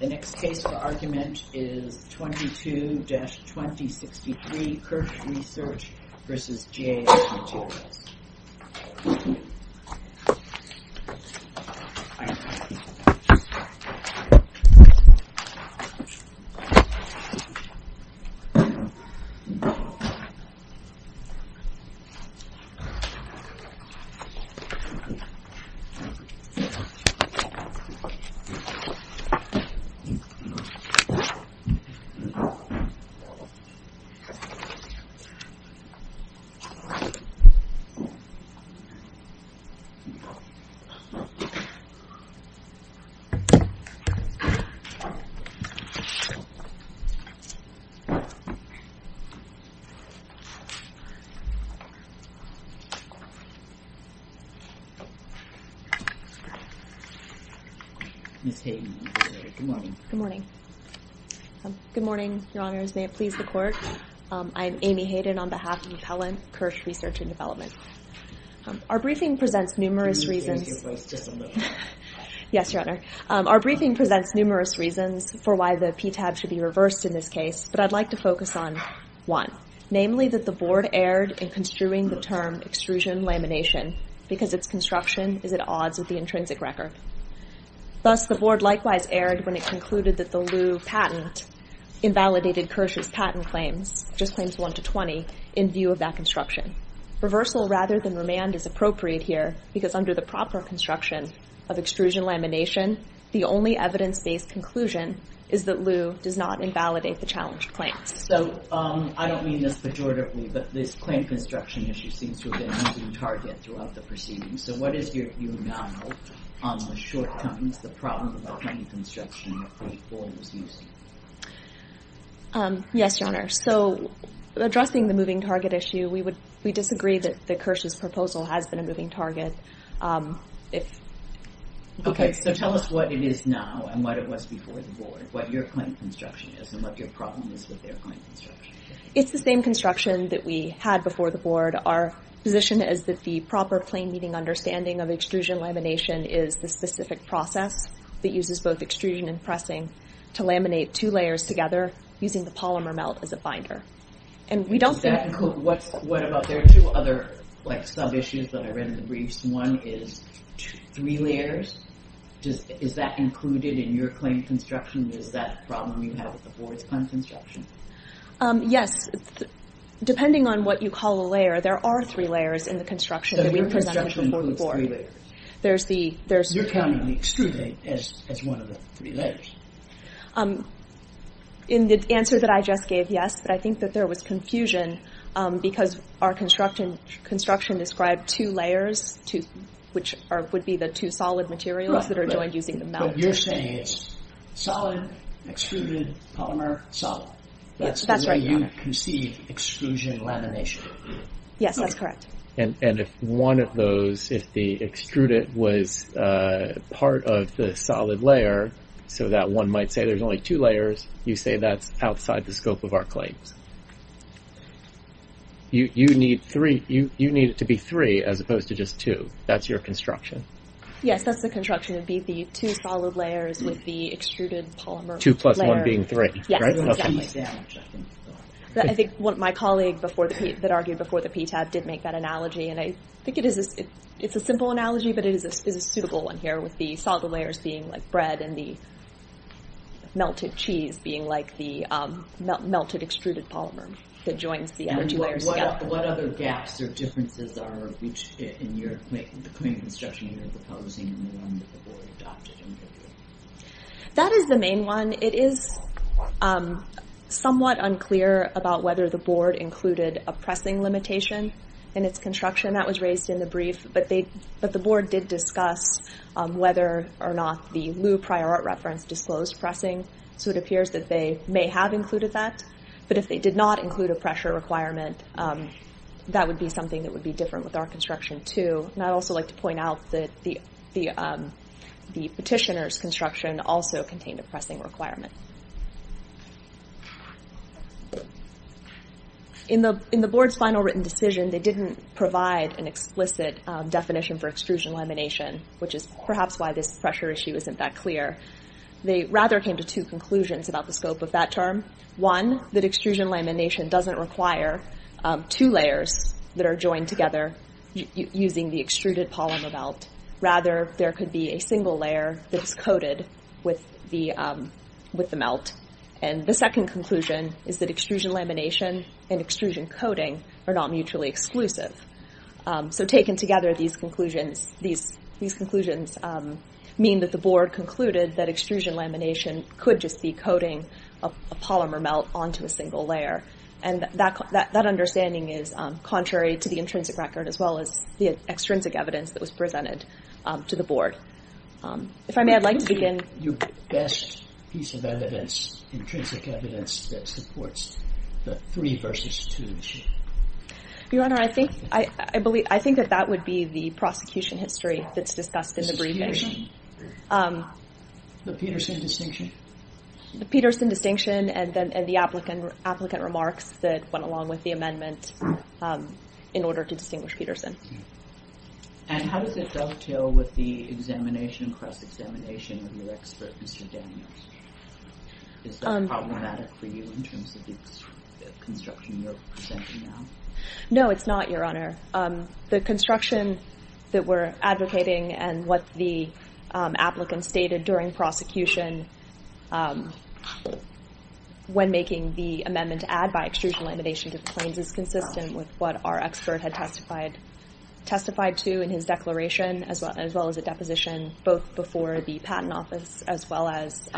The next case for argument is 22-2063 Kirsch Research v. GAF Materials v. GAF Materials v. GAF Materials I'm Amy Hayden on behalf of Appellant Kirsch Research and Development. Our briefing presents numerous reasons for why the PTAB should be reversed in this case, but I'd like to focus on one, namely that the Board erred in construing the term extrusion lamination because its construction is at odds with the intrinsic record. Thus, the Board likewise erred when it concluded that the Lew patent invalidated Kirsch's patent claims, which is claims 1-20, in view of that construction. Reversal rather than remand is appropriate here because under the proper construction of extrusion lamination, the only evidence-based conclusion is that Lew does not invalidate the challenged claims. So, I don't mean this pejoratively, but this claim construction issue seems to have been the target throughout the proceedings. So, what is your view now on the shortcomings, the problem of the claim construction the Board was using? Yes, Your Honor. So, addressing the moving target issue, we disagree that Kirsch's proposal has been a moving target. Okay, so tell us what it is now and what it was before the Board, what your claim construction is and what your problem is with their claim construction. It's the same construction that we had before the Board. Our position is that the proper claim meeting understanding of extrusion lamination is the specific process that uses both extrusion and pressing to laminate two layers together using the polymer melt as a binder. Does that include, what about, there are two other sub-issues that I read in the briefs. One is three layers. Is that included in your claim construction? Is that a problem you have with the Board's claim construction? Yes. Depending on what you call a layer, there are three layers in the construction that we presented before the Board. So, your construction includes three layers. You're counting the extrusion as one of the three layers. In the answer that I just gave, yes, but I think that there was confusion because our construction described two layers, which would be the two solid materials that are joined using the melt. So, you're saying it's solid, extruded, polymer, solid. That's the way you conceived extrusion lamination. Yes, that's correct. And if one of those, if the extruded was part of the solid layer, so that one might say there's only two layers, you say that's outside the scope of our claims. You need it to be three as opposed to just two. That's your construction. Yes, that's the construction. It would be the two solid layers with the extruded polymer layer. Two plus one being three, right? Yes, exactly. I think my colleague that argued before the PTAB did make that analogy, and I think it's a simple analogy, but it is a suitable one here with the solid layers being like bread and the melted cheese being like the melted extruded polymer that joins the other two layers together. What other gaps or differences are reached in the claim construction you're proposing and the one that the board adopted in the brief? That is the main one. It is somewhat unclear about whether the board included a pressing limitation in its construction. That was raised in the brief, but the board did discuss whether or not the lieu prior art reference disclosed pressing. So, it appears that they may have included that. But if they did not include a pressure requirement, that would be something that would be different with our construction, too. And I'd also like to point out that the petitioner's construction also contained a pressing requirement. In the board's final written decision, they didn't provide an explicit definition for extrusion lamination, which is perhaps why this pressure issue isn't that clear. They rather came to two conclusions about the scope of that term. One, that extrusion lamination doesn't require two layers that are joined together using the extruded polymer melt. Rather, there could be a single layer that's coated with the melt. And the second conclusion is that extrusion lamination and extrusion coating are not mutually exclusive. So, taken together, these conclusions mean that the board concluded that extrusion lamination could just be coating a polymer melt onto a single layer. And that understanding is contrary to the intrinsic record as well as the extrinsic evidence that was presented to the board. If I may, I'd like to begin... What would be your best piece of evidence, intrinsic evidence, that supports the three versus two issue? Your Honor, I think that that would be the prosecution history that's discussed in the briefing. The Peterson distinction? The Peterson distinction and the applicant remarks that went along with the amendment in order to distinguish Peterson. And how does it dovetail with the examination, cross-examination of your expert, Mr. Daniels? Is that problematic for you in terms of the construction you're presenting now? No, it's not, Your Honor. The construction that we're advocating and what the applicant stated during prosecution when making the amendment to add by extrusion lamination to the claims is consistent with what our expert had testified to in his declaration as well as a deposition both before the patent office as well as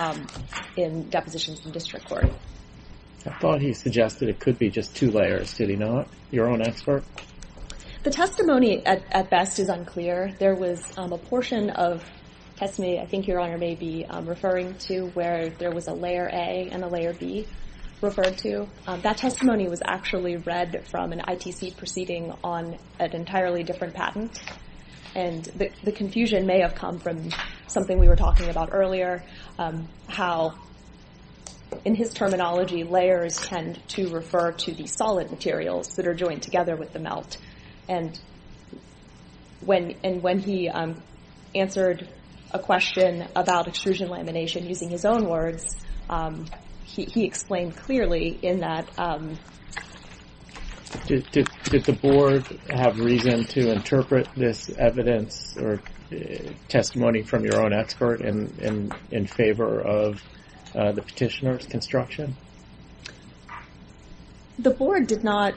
in depositions in district court. I thought he suggested it could be just two layers. Did he not? Your own expert? The testimony at best is unclear. There was a portion of testimony I think Your Honor may be referring to where there was a layer A and a layer B referred to. That testimony was actually read from an ITC proceeding on an entirely different patent. And the confusion may have come from something we were talking about earlier, how in his terminology layers tend to refer to the solid materials that are joined together with the melt. And when he answered a question about extrusion lamination using his own words, he explained clearly in that. Did the board have reason to interpret this evidence or testimony from your own expert in favor of the petitioner's construction? The board did not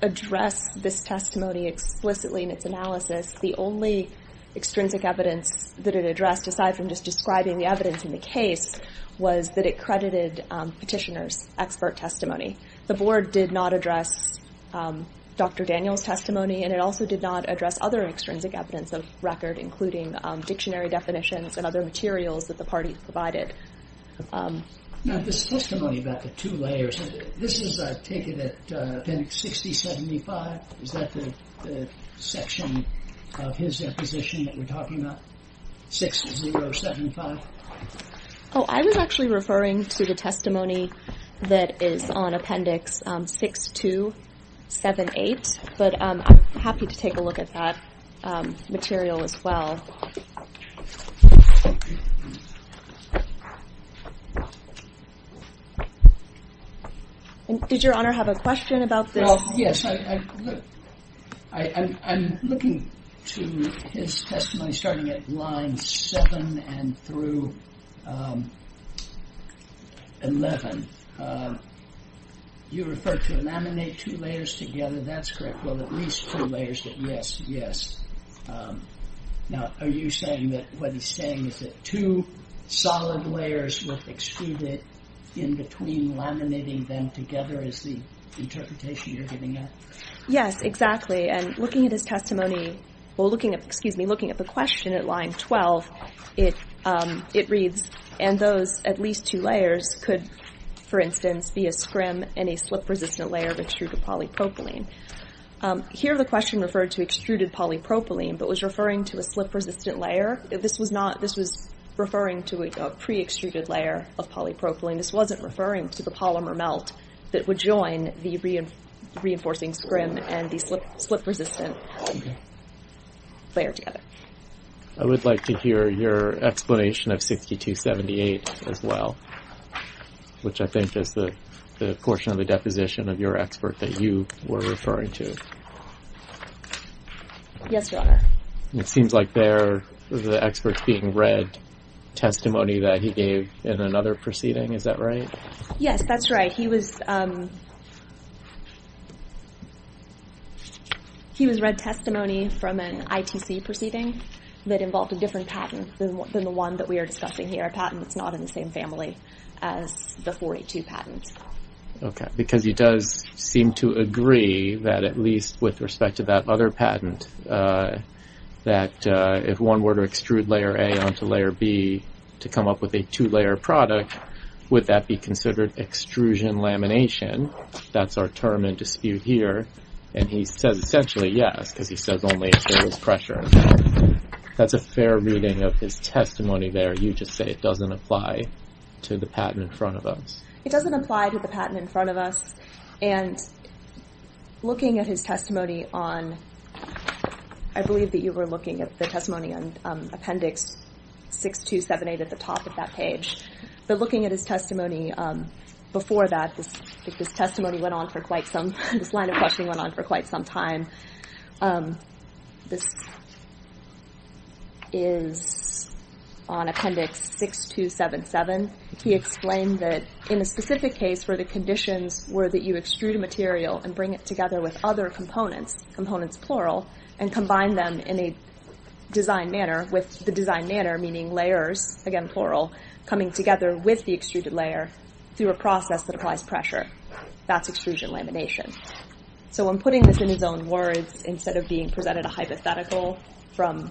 address this testimony explicitly in its analysis. The only extrinsic evidence that it addressed, aside from just describing the evidence in the case, was that it credited petitioner's expert testimony. The board did not address Dr. Daniel's testimony, and it also did not address other extrinsic evidence of record, including dictionary definitions and other materials that the party provided. Now this testimony about the two layers, this is taken at Appendix 6075. Is that the section of his deposition that we're talking about, 6075? Oh, I was actually referring to the testimony that is on Appendix 6278, but I'm happy to take a look at that material as well. Did Your Honor have a question about this? Well, yes. I'm looking to his testimony starting at lines 7 and through 11. You referred to laminate two layers together, that's correct. Well, at least two layers, yes, yes. Now are you saying that what he's saying is that two solid layers with extruded in between laminating them together is the interpretation you're getting at? Yes, exactly, and looking at his testimony, well, excuse me, looking at the question at line 12, it reads, and those at least two layers could, for instance, be a scrim and a slip-resistant layer of extruded polypropylene. Here the question referred to extruded polypropylene, but was referring to a slip-resistant layer. This was referring to a pre-extruded layer of polypropylene. This wasn't referring to the polymer melt that would join the reinforcing scrim and the slip-resistant layer together. I would like to hear your explanation of 6278 as well, which I think is the portion of the deposition of your expert that you were referring to. Yes, Your Honor. It seems like they're the experts being read testimony that he gave in another proceeding, is that right? Yes, that's right. He was read testimony from an ITC proceeding that involved a different patent than the one that we are discussing here, a different patent that's not in the same family as the 482 patent. Okay, because he does seem to agree that at least with respect to that other patent, that if one were to extrude layer A onto layer B to come up with a two-layer product, would that be considered extrusion lamination? That's our term in dispute here, and he says essentially yes, because he says only if there was pressure involved. That's a fair reading of his testimony there. You just say it doesn't apply to the patent in front of us. It doesn't apply to the patent in front of us, and looking at his testimony on, I believe that you were looking at the testimony on Appendix 6278 at the top of that page, but looking at his testimony before that, this testimony went on for quite some, this line of questioning went on for quite some time. This is on Appendix 6277. He explained that in a specific case where the conditions were that you extrude a material and bring it together with other components, components plural, and combine them in a design manner with the design manner, meaning layers, again plural, coming together with the extruded layer through a process that applies pressure. That's extrusion lamination. So in putting this in his own words, instead of being presented a hypothetical from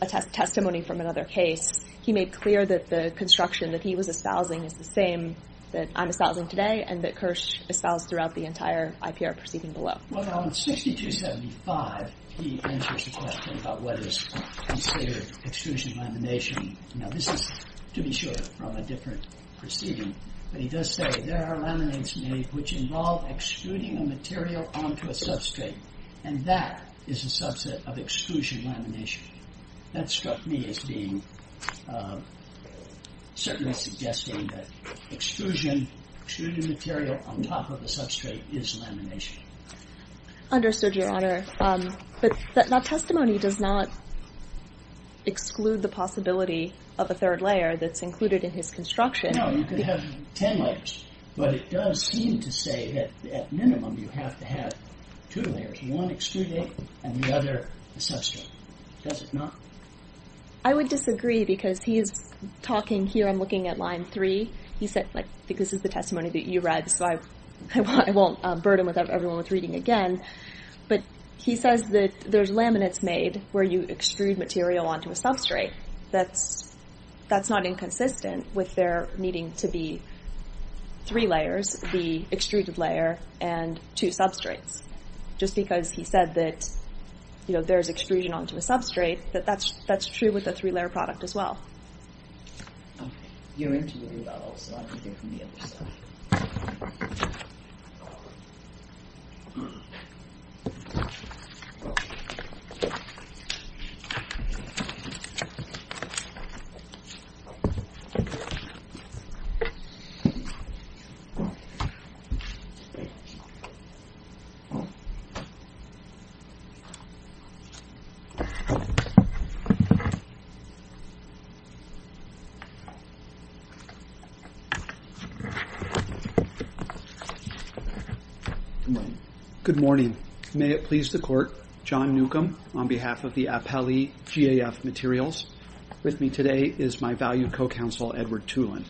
a testimony from another case, he made clear that the construction that he was espousing is the same that I'm espousing today and that Kirsch espoused throughout the entire IPR proceeding below. Well, on 6275, he answers the question about what is considered extrusion lamination. Now, this is, to be sure, from a different proceeding, but he does say there are laminates made which involve extruding a material onto a substrate, and that is a subset of extrusion lamination. That struck me as being, certainly suggesting that extrusion, extruding material on top of a substrate is lamination. Understood, Your Honor. But that testimony does not exclude the possibility of a third layer that's included in his construction. No, you could have ten layers, but it does seem to say that at minimum you have to have two layers, one extruded and the other a substrate. Does it not? I would disagree because he is talking here, I'm looking at line three, he said, like, I think this is the testimony that you read, so I won't burden everyone with reading again, but he says that there's laminates made where you extrude material onto a substrate. That's not inconsistent with there needing to be three layers, the extruded layer and two substrates. Just because he said that there's extrusion onto a substrate, that's true with the three-layer product as well. Okay. You're into it as well, so I'll take it from the other side. Good morning. May it please the Court. John Newcomb on behalf of the Appellee GAF Materials. With me today is my valued co-counsel Edward Tulin.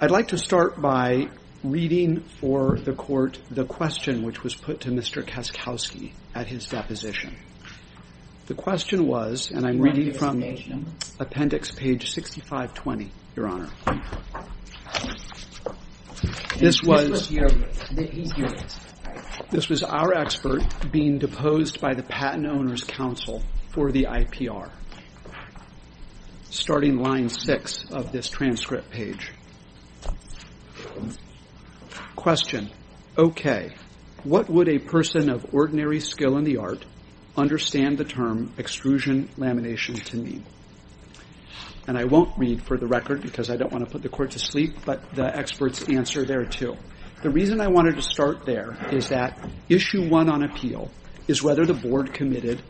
I'd like to start by reading for the Court the question which was put to Mr. Kaskowski at his deposition. The question was, and I'm reading from appendix page 6520, Your Honor. This was our expert being deposed by the Patent Owners' Council for the IPR, starting line six of this transcript page. Question. Okay. What would a person of ordinary skill in the art understand the term extrusion lamination to mean? And I won't read for the record because I don't want to put the Court to sleep, but the experts answer there too. The reason I wanted to start there is that issue one on appeal is whether the Board committed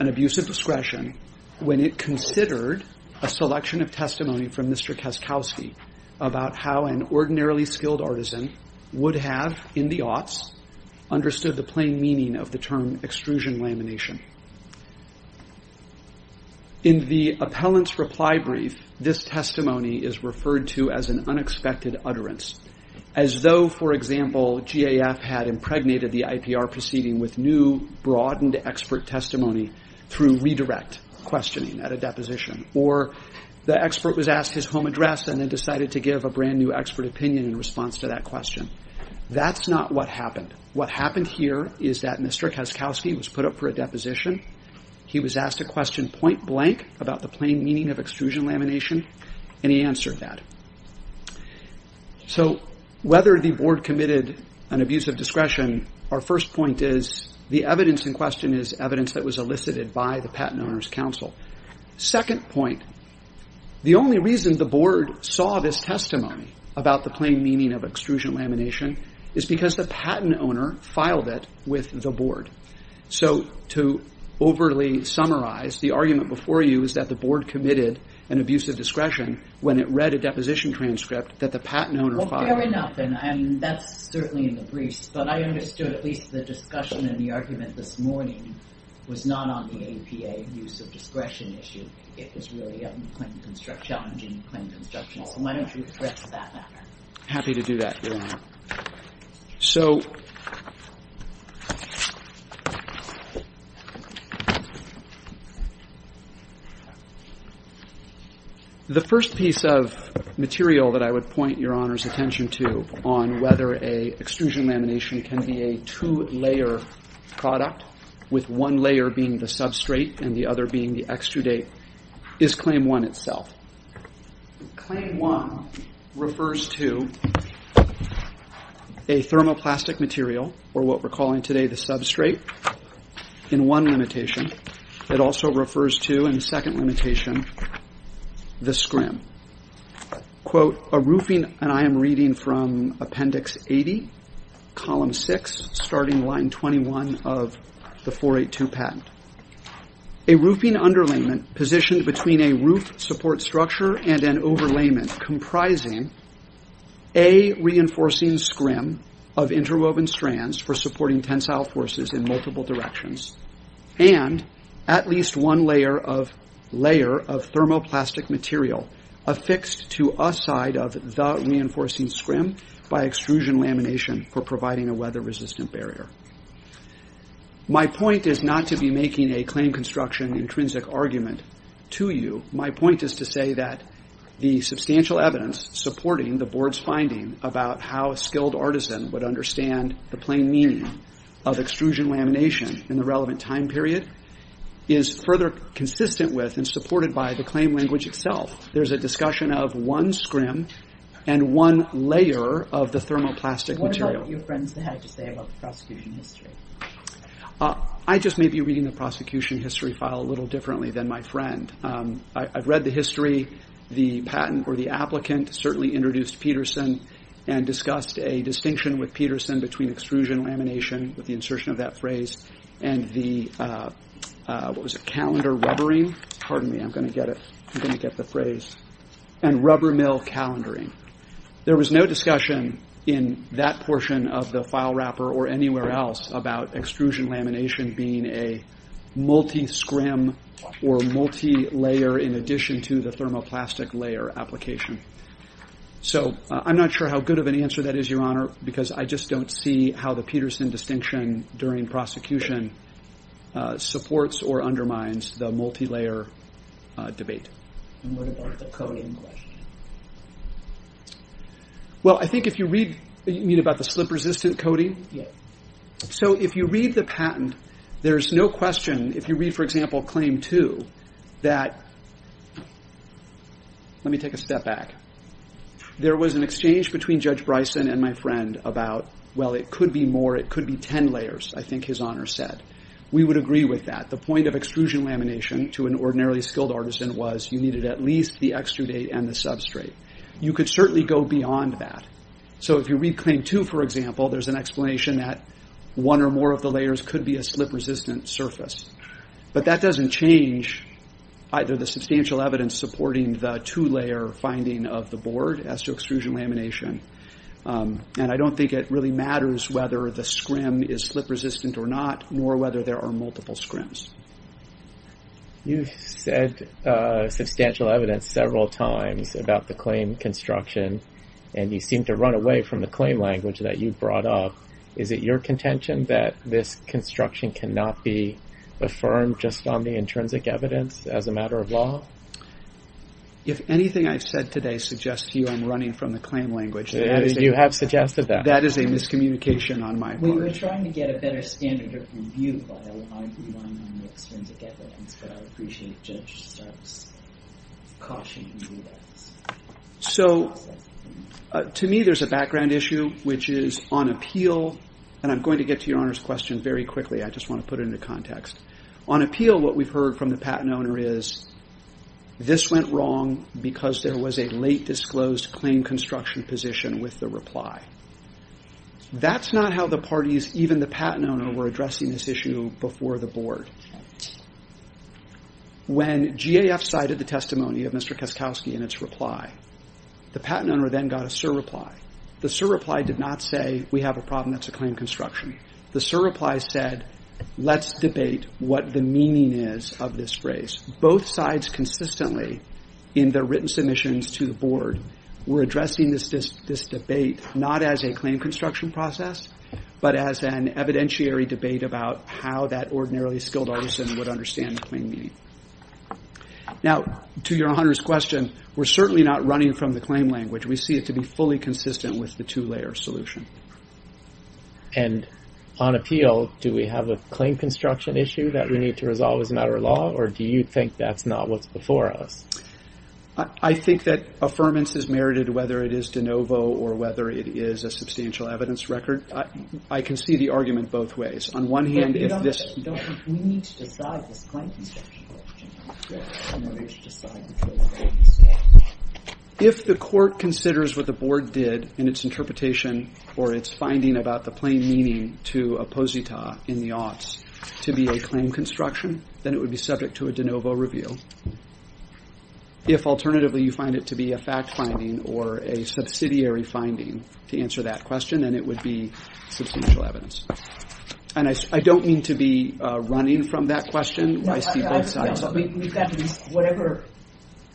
an abuse of discretion when it considered a selection of testimony from Mr. Kaskowski about how an ordinarily skilled artisan would have, in the aughts, understood the plain meaning of the term extrusion lamination. In the appellant's reply brief, this testimony is referred to as an unexpected utterance, as though, for example, GAF had impregnated the IPR proceeding with new, broadened expert testimony through redirect questioning at a deposition, or the expert was asked his home address and then decided to give a brand-new expert opinion in response to that question. That's not what happened. What happened here is that Mr. Kaskowski was put up for a deposition. He was asked a question point-blank about the plain meaning of extrusion lamination, and he answered that. So whether the Board committed an abuse of discretion, our first point is the evidence in question is evidence that was elicited by the Patent Owners' Council. Second point, the only reason the Board saw this testimony about the plain meaning of extrusion lamination is because the Patent Owner filed it with the Board. So to overly summarize, the argument before you is that the Board committed an abuse of discretion when it read a deposition transcript that the Patent Owner filed. Well, fair enough, and that's certainly in the briefs, but I understood at least the discussion and the argument this morning was not on the APA use of discretion issue. It was really on plain construction, challenging plain construction. So why don't you address that matter? Happy to do that, Your Honor. So the first piece of material that I would point Your Honor's attention to on whether an extrusion lamination can be a two-layer product, with one layer being the substrate and the other being the extrudate, is Claim 1 itself. Claim 1 refers to a thermoplastic material, or what we're calling today the substrate, in one limitation. It also refers to, in the second limitation, the scrim. A roofing, and I am reading from Appendix 80, Column 6, starting Line 21 of the 482 Patent. A roofing underlayment positioned between a roof support structure and an overlayment comprising a reinforcing scrim of interwoven strands for supporting tensile forces in multiple directions and at least one layer of thermoplastic material affixed to a side of the reinforcing scrim by extrusion lamination for providing a weather-resistant barrier. My point is not to be making a claim construction intrinsic argument to you. My point is to say that the substantial evidence supporting the Board's finding about how a skilled artisan would understand the plain meaning of extrusion lamination in the relevant time period is further consistent with and supported by the claim language itself. There's a discussion of one scrim and one layer of the thermoplastic material. What about your friends that had to say about the prosecution history? I just may be reading the prosecution history file a little differently than my friend. I've read the history. The patent or the applicant certainly introduced Peterson and discussed a distinction with Peterson between extrusion lamination with the insertion of that phrase and the, what was it, calendar rubbering? Pardon me. I'm going to get it. I'm going to get the phrase. And rubber mill calendaring. There was no discussion in that portion of the file wrapper or anywhere else about extrusion lamination being a multi-scrim or multi-layer in addition to the thermoplastic layer application. So I'm not sure how good of an answer that is, Your Honor, because I just don't see how the Peterson distinction during prosecution supports or undermines the multi-layer debate. And what about the coding question? Well, I think if you read, you mean about the slip-resistant coding? Yes. So if you read the patent, there's no question, if you read, for example, Claim 2, that let me take a step back. There was an exchange between Judge Bryson and my friend about, well, it could be more. It could be 10 layers, I think His Honor said. We would agree with that. The point of extrusion lamination to an ordinarily skilled artisan was you needed at least the extrudate and the substrate. You could certainly go beyond that. So if you read Claim 2, for example, there's an explanation that one or more of the layers could be a slip-resistant surface. But that doesn't change either the substantial evidence supporting the two-layer finding of the board as to extrusion lamination. And I don't think it really matters whether the scrim is slip-resistant or not, nor whether there are multiple scrims. You've said substantial evidence several times about the claim construction, and you seem to run away from the claim language that you brought up. Is it your contention that this construction cannot be affirmed just on the intrinsic evidence as a matter of law? If anything I've said today suggests to you I'm running from the claim language, you have suggested that. That is a miscommunication on my part. We were trying to get a better standard of review, but I would argue on the extrinsic evidence, but I would appreciate if the judge starts cautioning you. So to me there's a background issue, which is on appeal, and I'm going to get to Your Honor's question very quickly. I just want to put it into context. On appeal, what we've heard from the patent owner is, this went wrong because there was a late disclosed claim construction position with the reply. That's not how the parties, even the patent owner, were addressing this issue before the board. When GAF cited the testimony of Mr. Kaskowski in its reply, the patent owner then got a surreply. The surreply did not say, we have a problem that's a claim construction. The surreply said, let's debate what the meaning is of this phrase. Both sides consistently, in their written submissions to the board, were addressing this debate not as a claim construction process, but as an evidentiary debate about how that ordinarily skilled artisan would understand the claim meaning. Now, to Your Honor's question, we're certainly not running from the claim language. We see it to be fully consistent with the two-layer solution. And on appeal, do we have a claim construction issue that we need to resolve as a matter of law, or do you think that's not what's before us? I think that affirmance is merited whether it is de novo or whether it is a substantial evidence record. I can see the argument both ways. On one hand, if this— But you don't think we need to decide this claim construction question. You don't think we need to decide which way to go instead. If the court considers what the board did in its interpretation or its finding about the plain meaning to a posita in the aughts to be a claim construction, then it would be subject to a de novo review. If, alternatively, you find it to be a fact finding or a subsidiary finding to answer that question, then it would be substantial evidence. And I don't mean to be running from that question. I see both sides. Whatever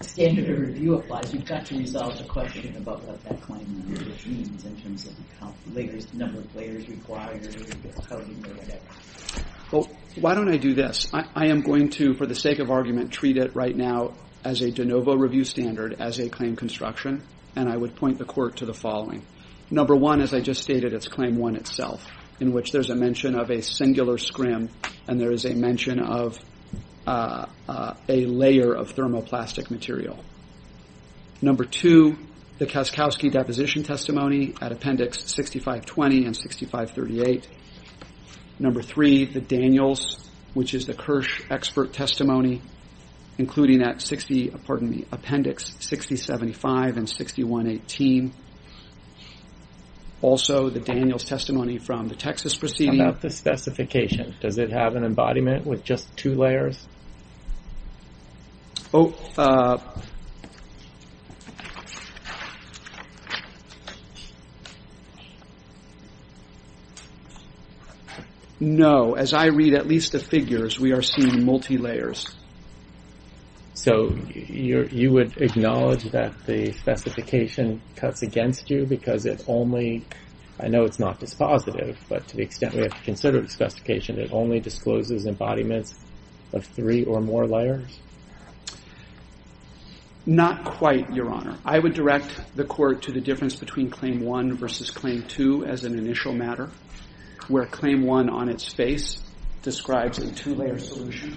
standard of review applies, you've got to resolve the question about what that claim language means in terms of the number of layers required or how you look at it. Well, why don't I do this? I am going to, for the sake of argument, treat it right now as a de novo review standard as a claim construction, and I would point the court to the following. Number one, as I just stated, it's claim one itself, in which there's a mention of a singular scrim and there is a mention of a layer of thermoplastic material. Number two, the Kaskowski Deposition Testimony at Appendix 6520 and 6538. Number three, the Daniels, which is the Kirsch Expert Testimony, including at Appendix 6075 and 6118. Also, the Daniels Testimony from the Texas proceeding. How about the specification? Does it have an embodiment with just two layers? Oh, no. As I read at least the figures, we are seeing multi-layers. So you would acknowledge that the specification cuts against you because it only, I know it's not dispositive, but to the extent we have to consider the specification, it only discloses embodiments of three or more layers? Not quite, Your Honor. I would direct the court to the difference between claim one versus claim two as an initial matter, where claim one on its face describes a two-layer solution.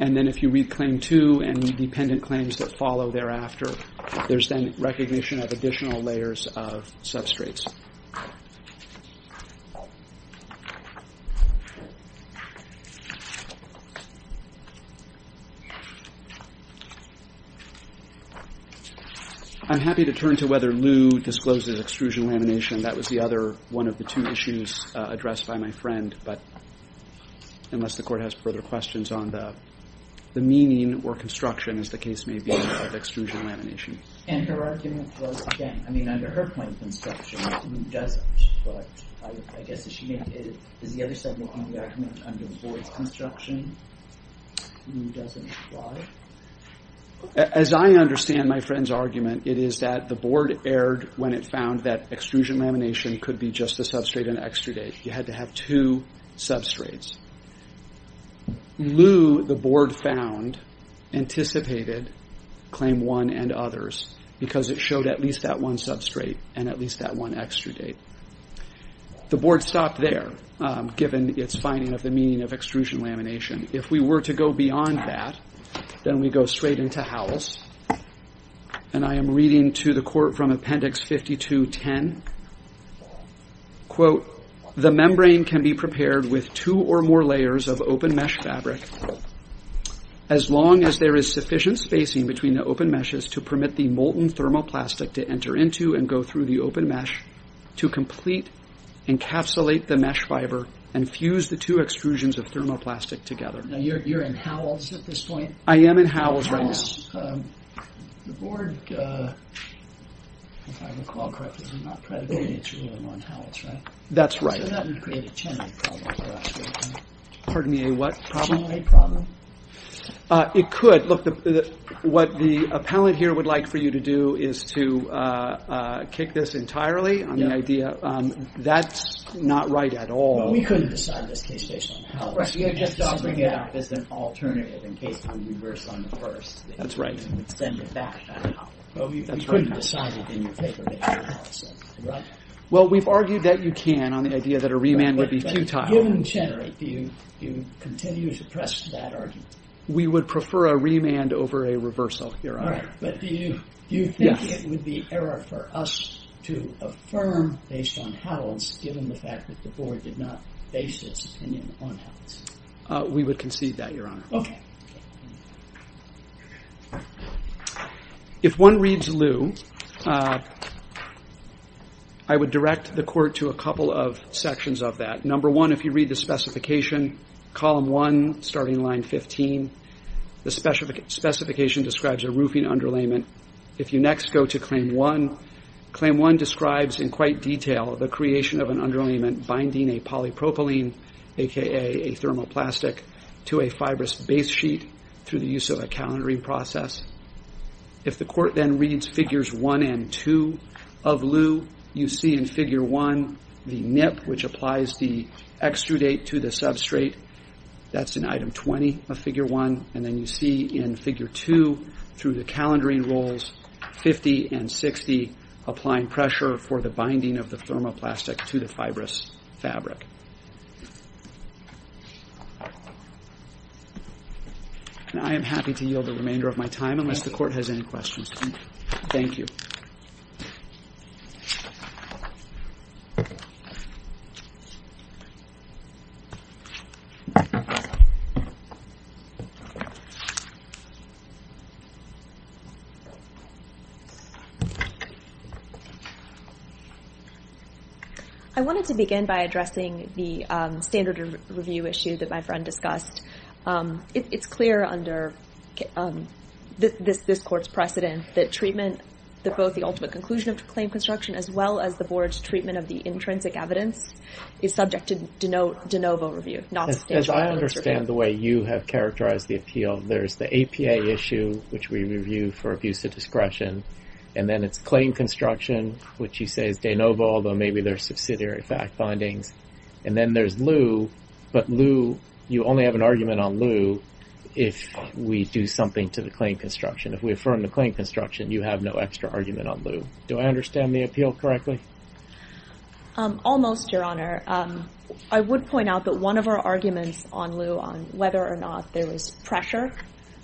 And then if you read claim two and the dependent claims that follow thereafter, there's then recognition of additional layers of substrates. I'm happy to turn to whether Lew discloses extrusion lamination. That was the other one of the two issues addressed by my friend, but unless the court has further questions on the meaning or construction, as the case may be, of extrusion lamination. And her argument was, again, I mean, under her point of construction, Lew doesn't, but I guess is she making, is the other side making the argument under the board's construction, Lew doesn't apply? As I understand my friend's argument, it is that the board erred when it found that extrusion lamination could be just a substrate and extraday. You had to have two substrates. Lew, the board found, anticipated claim one and others, because it showed at least that one substrate and at least that one extraday. The board stopped there, given its finding of the meaning of extrusion lamination. If we were to go beyond that, then we go straight into Howells. And I am reading to the court from appendix 52-10. You're in Howells at this point? I am in Howells right now. The board, if I recall correctly, did not predicate its ruling on Howells, right? That's right. So that would create a chenelade problem for us, right? Pardon me, a what problem? Chenelade problem. It could. Look, what the appellant here would like for you to do is to kick this entirely on the idea. That's not right at all. We couldn't decide this case based on Howells. You're just offering it up as an alternative in case we reverse on the first. That's right. You would send it back to Howells. We couldn't decide it in your favor based on Howells, right? Well, we've argued that you can on the idea that a remand would be futile. But given Chenelade, do you continue to suppress that argument? We would prefer a remand over a reversal here. All right. But do you think it would be error for us to affirm based on Howells, given the fact that the board did not base its opinion on Howells? We would concede that, Your Honor. Okay. If one reads Lew, I would direct the court to a couple of sections of that. Number one, if you read the specification, column one, starting line 15, the specification describes a roofing underlayment. If you next go to claim one, claim one describes in quite detail the creation of an underlayment binding a polypropylene, a.k.a. a thermoplastic, to a fibrous base sheet through the use of a calendaring process. If the court then reads figures one and two of Lew, you see in figure one the NIP, which applies the extrudate to the substrate. That's in item 20 of figure one. And then you see in figure two, through the calendaring rules, 50 and 60, applying pressure for the binding of the thermoplastic to the fibrous fabric. I am happy to yield the remainder of my time unless the court has any questions. Thank you. I wanted to begin by addressing the standard review issue that my friend discussed. It's clear under this court's precedent that treatment, both the ultimate conclusion of claim construction as well as the board's treatment of the intrinsic evidence, is subject to de novo review, not the standard review. As I understand the way you have characterized the appeal, there's the APA issue, which we review for abuse of discretion, and then it's claim construction, which you say is de novo, although maybe there's subsidiary fact findings. And then there's Lew, but Lew, you only have an argument on Lew if we do something to the claim construction. If we affirm the claim construction, you have no extra argument on Lew. Do I understand the appeal correctly? Almost, Your Honor. I would point out that one of our arguments on Lew, on whether or not there was pressure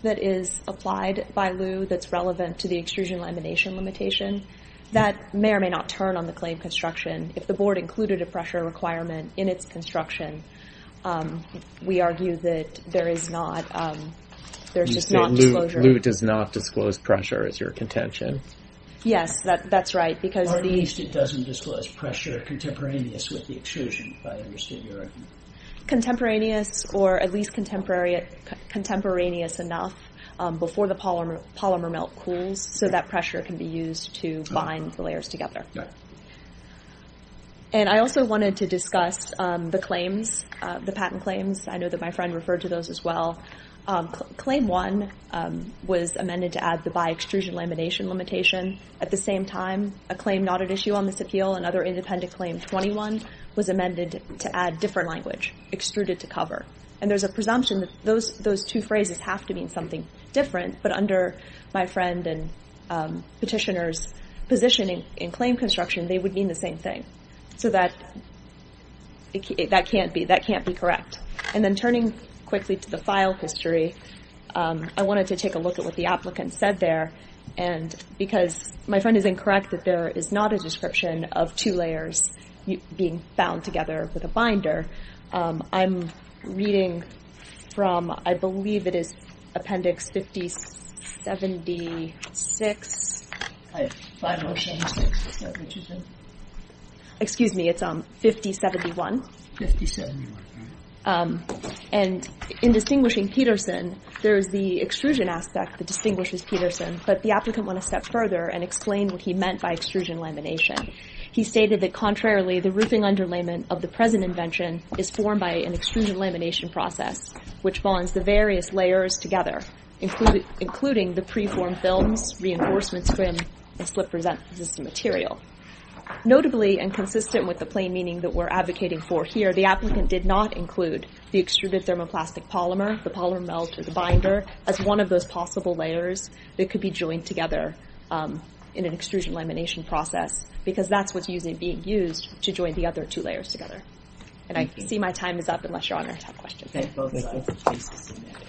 that is applied by Lew that's relevant to the extrusion lamination limitation, that may or may not turn on the claim construction if the board included a pressure requirement in its construction, we argue that there is not disclosure. You say Lew does not disclose pressure as your contention. Yes, that's right. Or at least it doesn't disclose pressure contemporaneous with the extrusion, if I understood your argument. Contemporaneous or at least contemporaneous enough before the polymer melt cools, so that pressure can be used to bind the layers together. And I also wanted to discuss the claims, the patent claims. I know that my friend referred to those as well. Claim 1 was amended to add the bi-extrusion lamination limitation. At the same time, a claim not at issue on this appeal, another independent claim, 21, was amended to add different language, extruded to cover. And there's a presumption that those two phrases have to mean something different, but under my friend and petitioner's position in claim construction, they would mean the same thing. So that can't be correct. And then turning quickly to the file history, I wanted to take a look at what the applicant said there. And because my friend is incorrect that there is not a description of two layers being bound together with a binder, I'm reading from, I believe it is appendix 5076. Excuse me, it's 5071. And in distinguishing Peterson, there's the extrusion aspect that distinguishes Peterson, but the applicant went a step further and explained what he meant by extrusion lamination. He stated that contrarily, the roofing underlayment of the present invention is formed by an extrusion lamination process, which bonds the various layers together, including the preformed films, reinforcement scrim, and slip resistant material. Notably, and consistent with the plain meaning that we're advocating for here, the applicant did not include the extruded thermoplastic polymer, the polymer melt, or the binder, as one of those possible layers that could be joined together in an extrusion lamination process, because that's what's usually being used to join the other two layers together. And I see my time is up, unless Your Honor has questions. Thank you.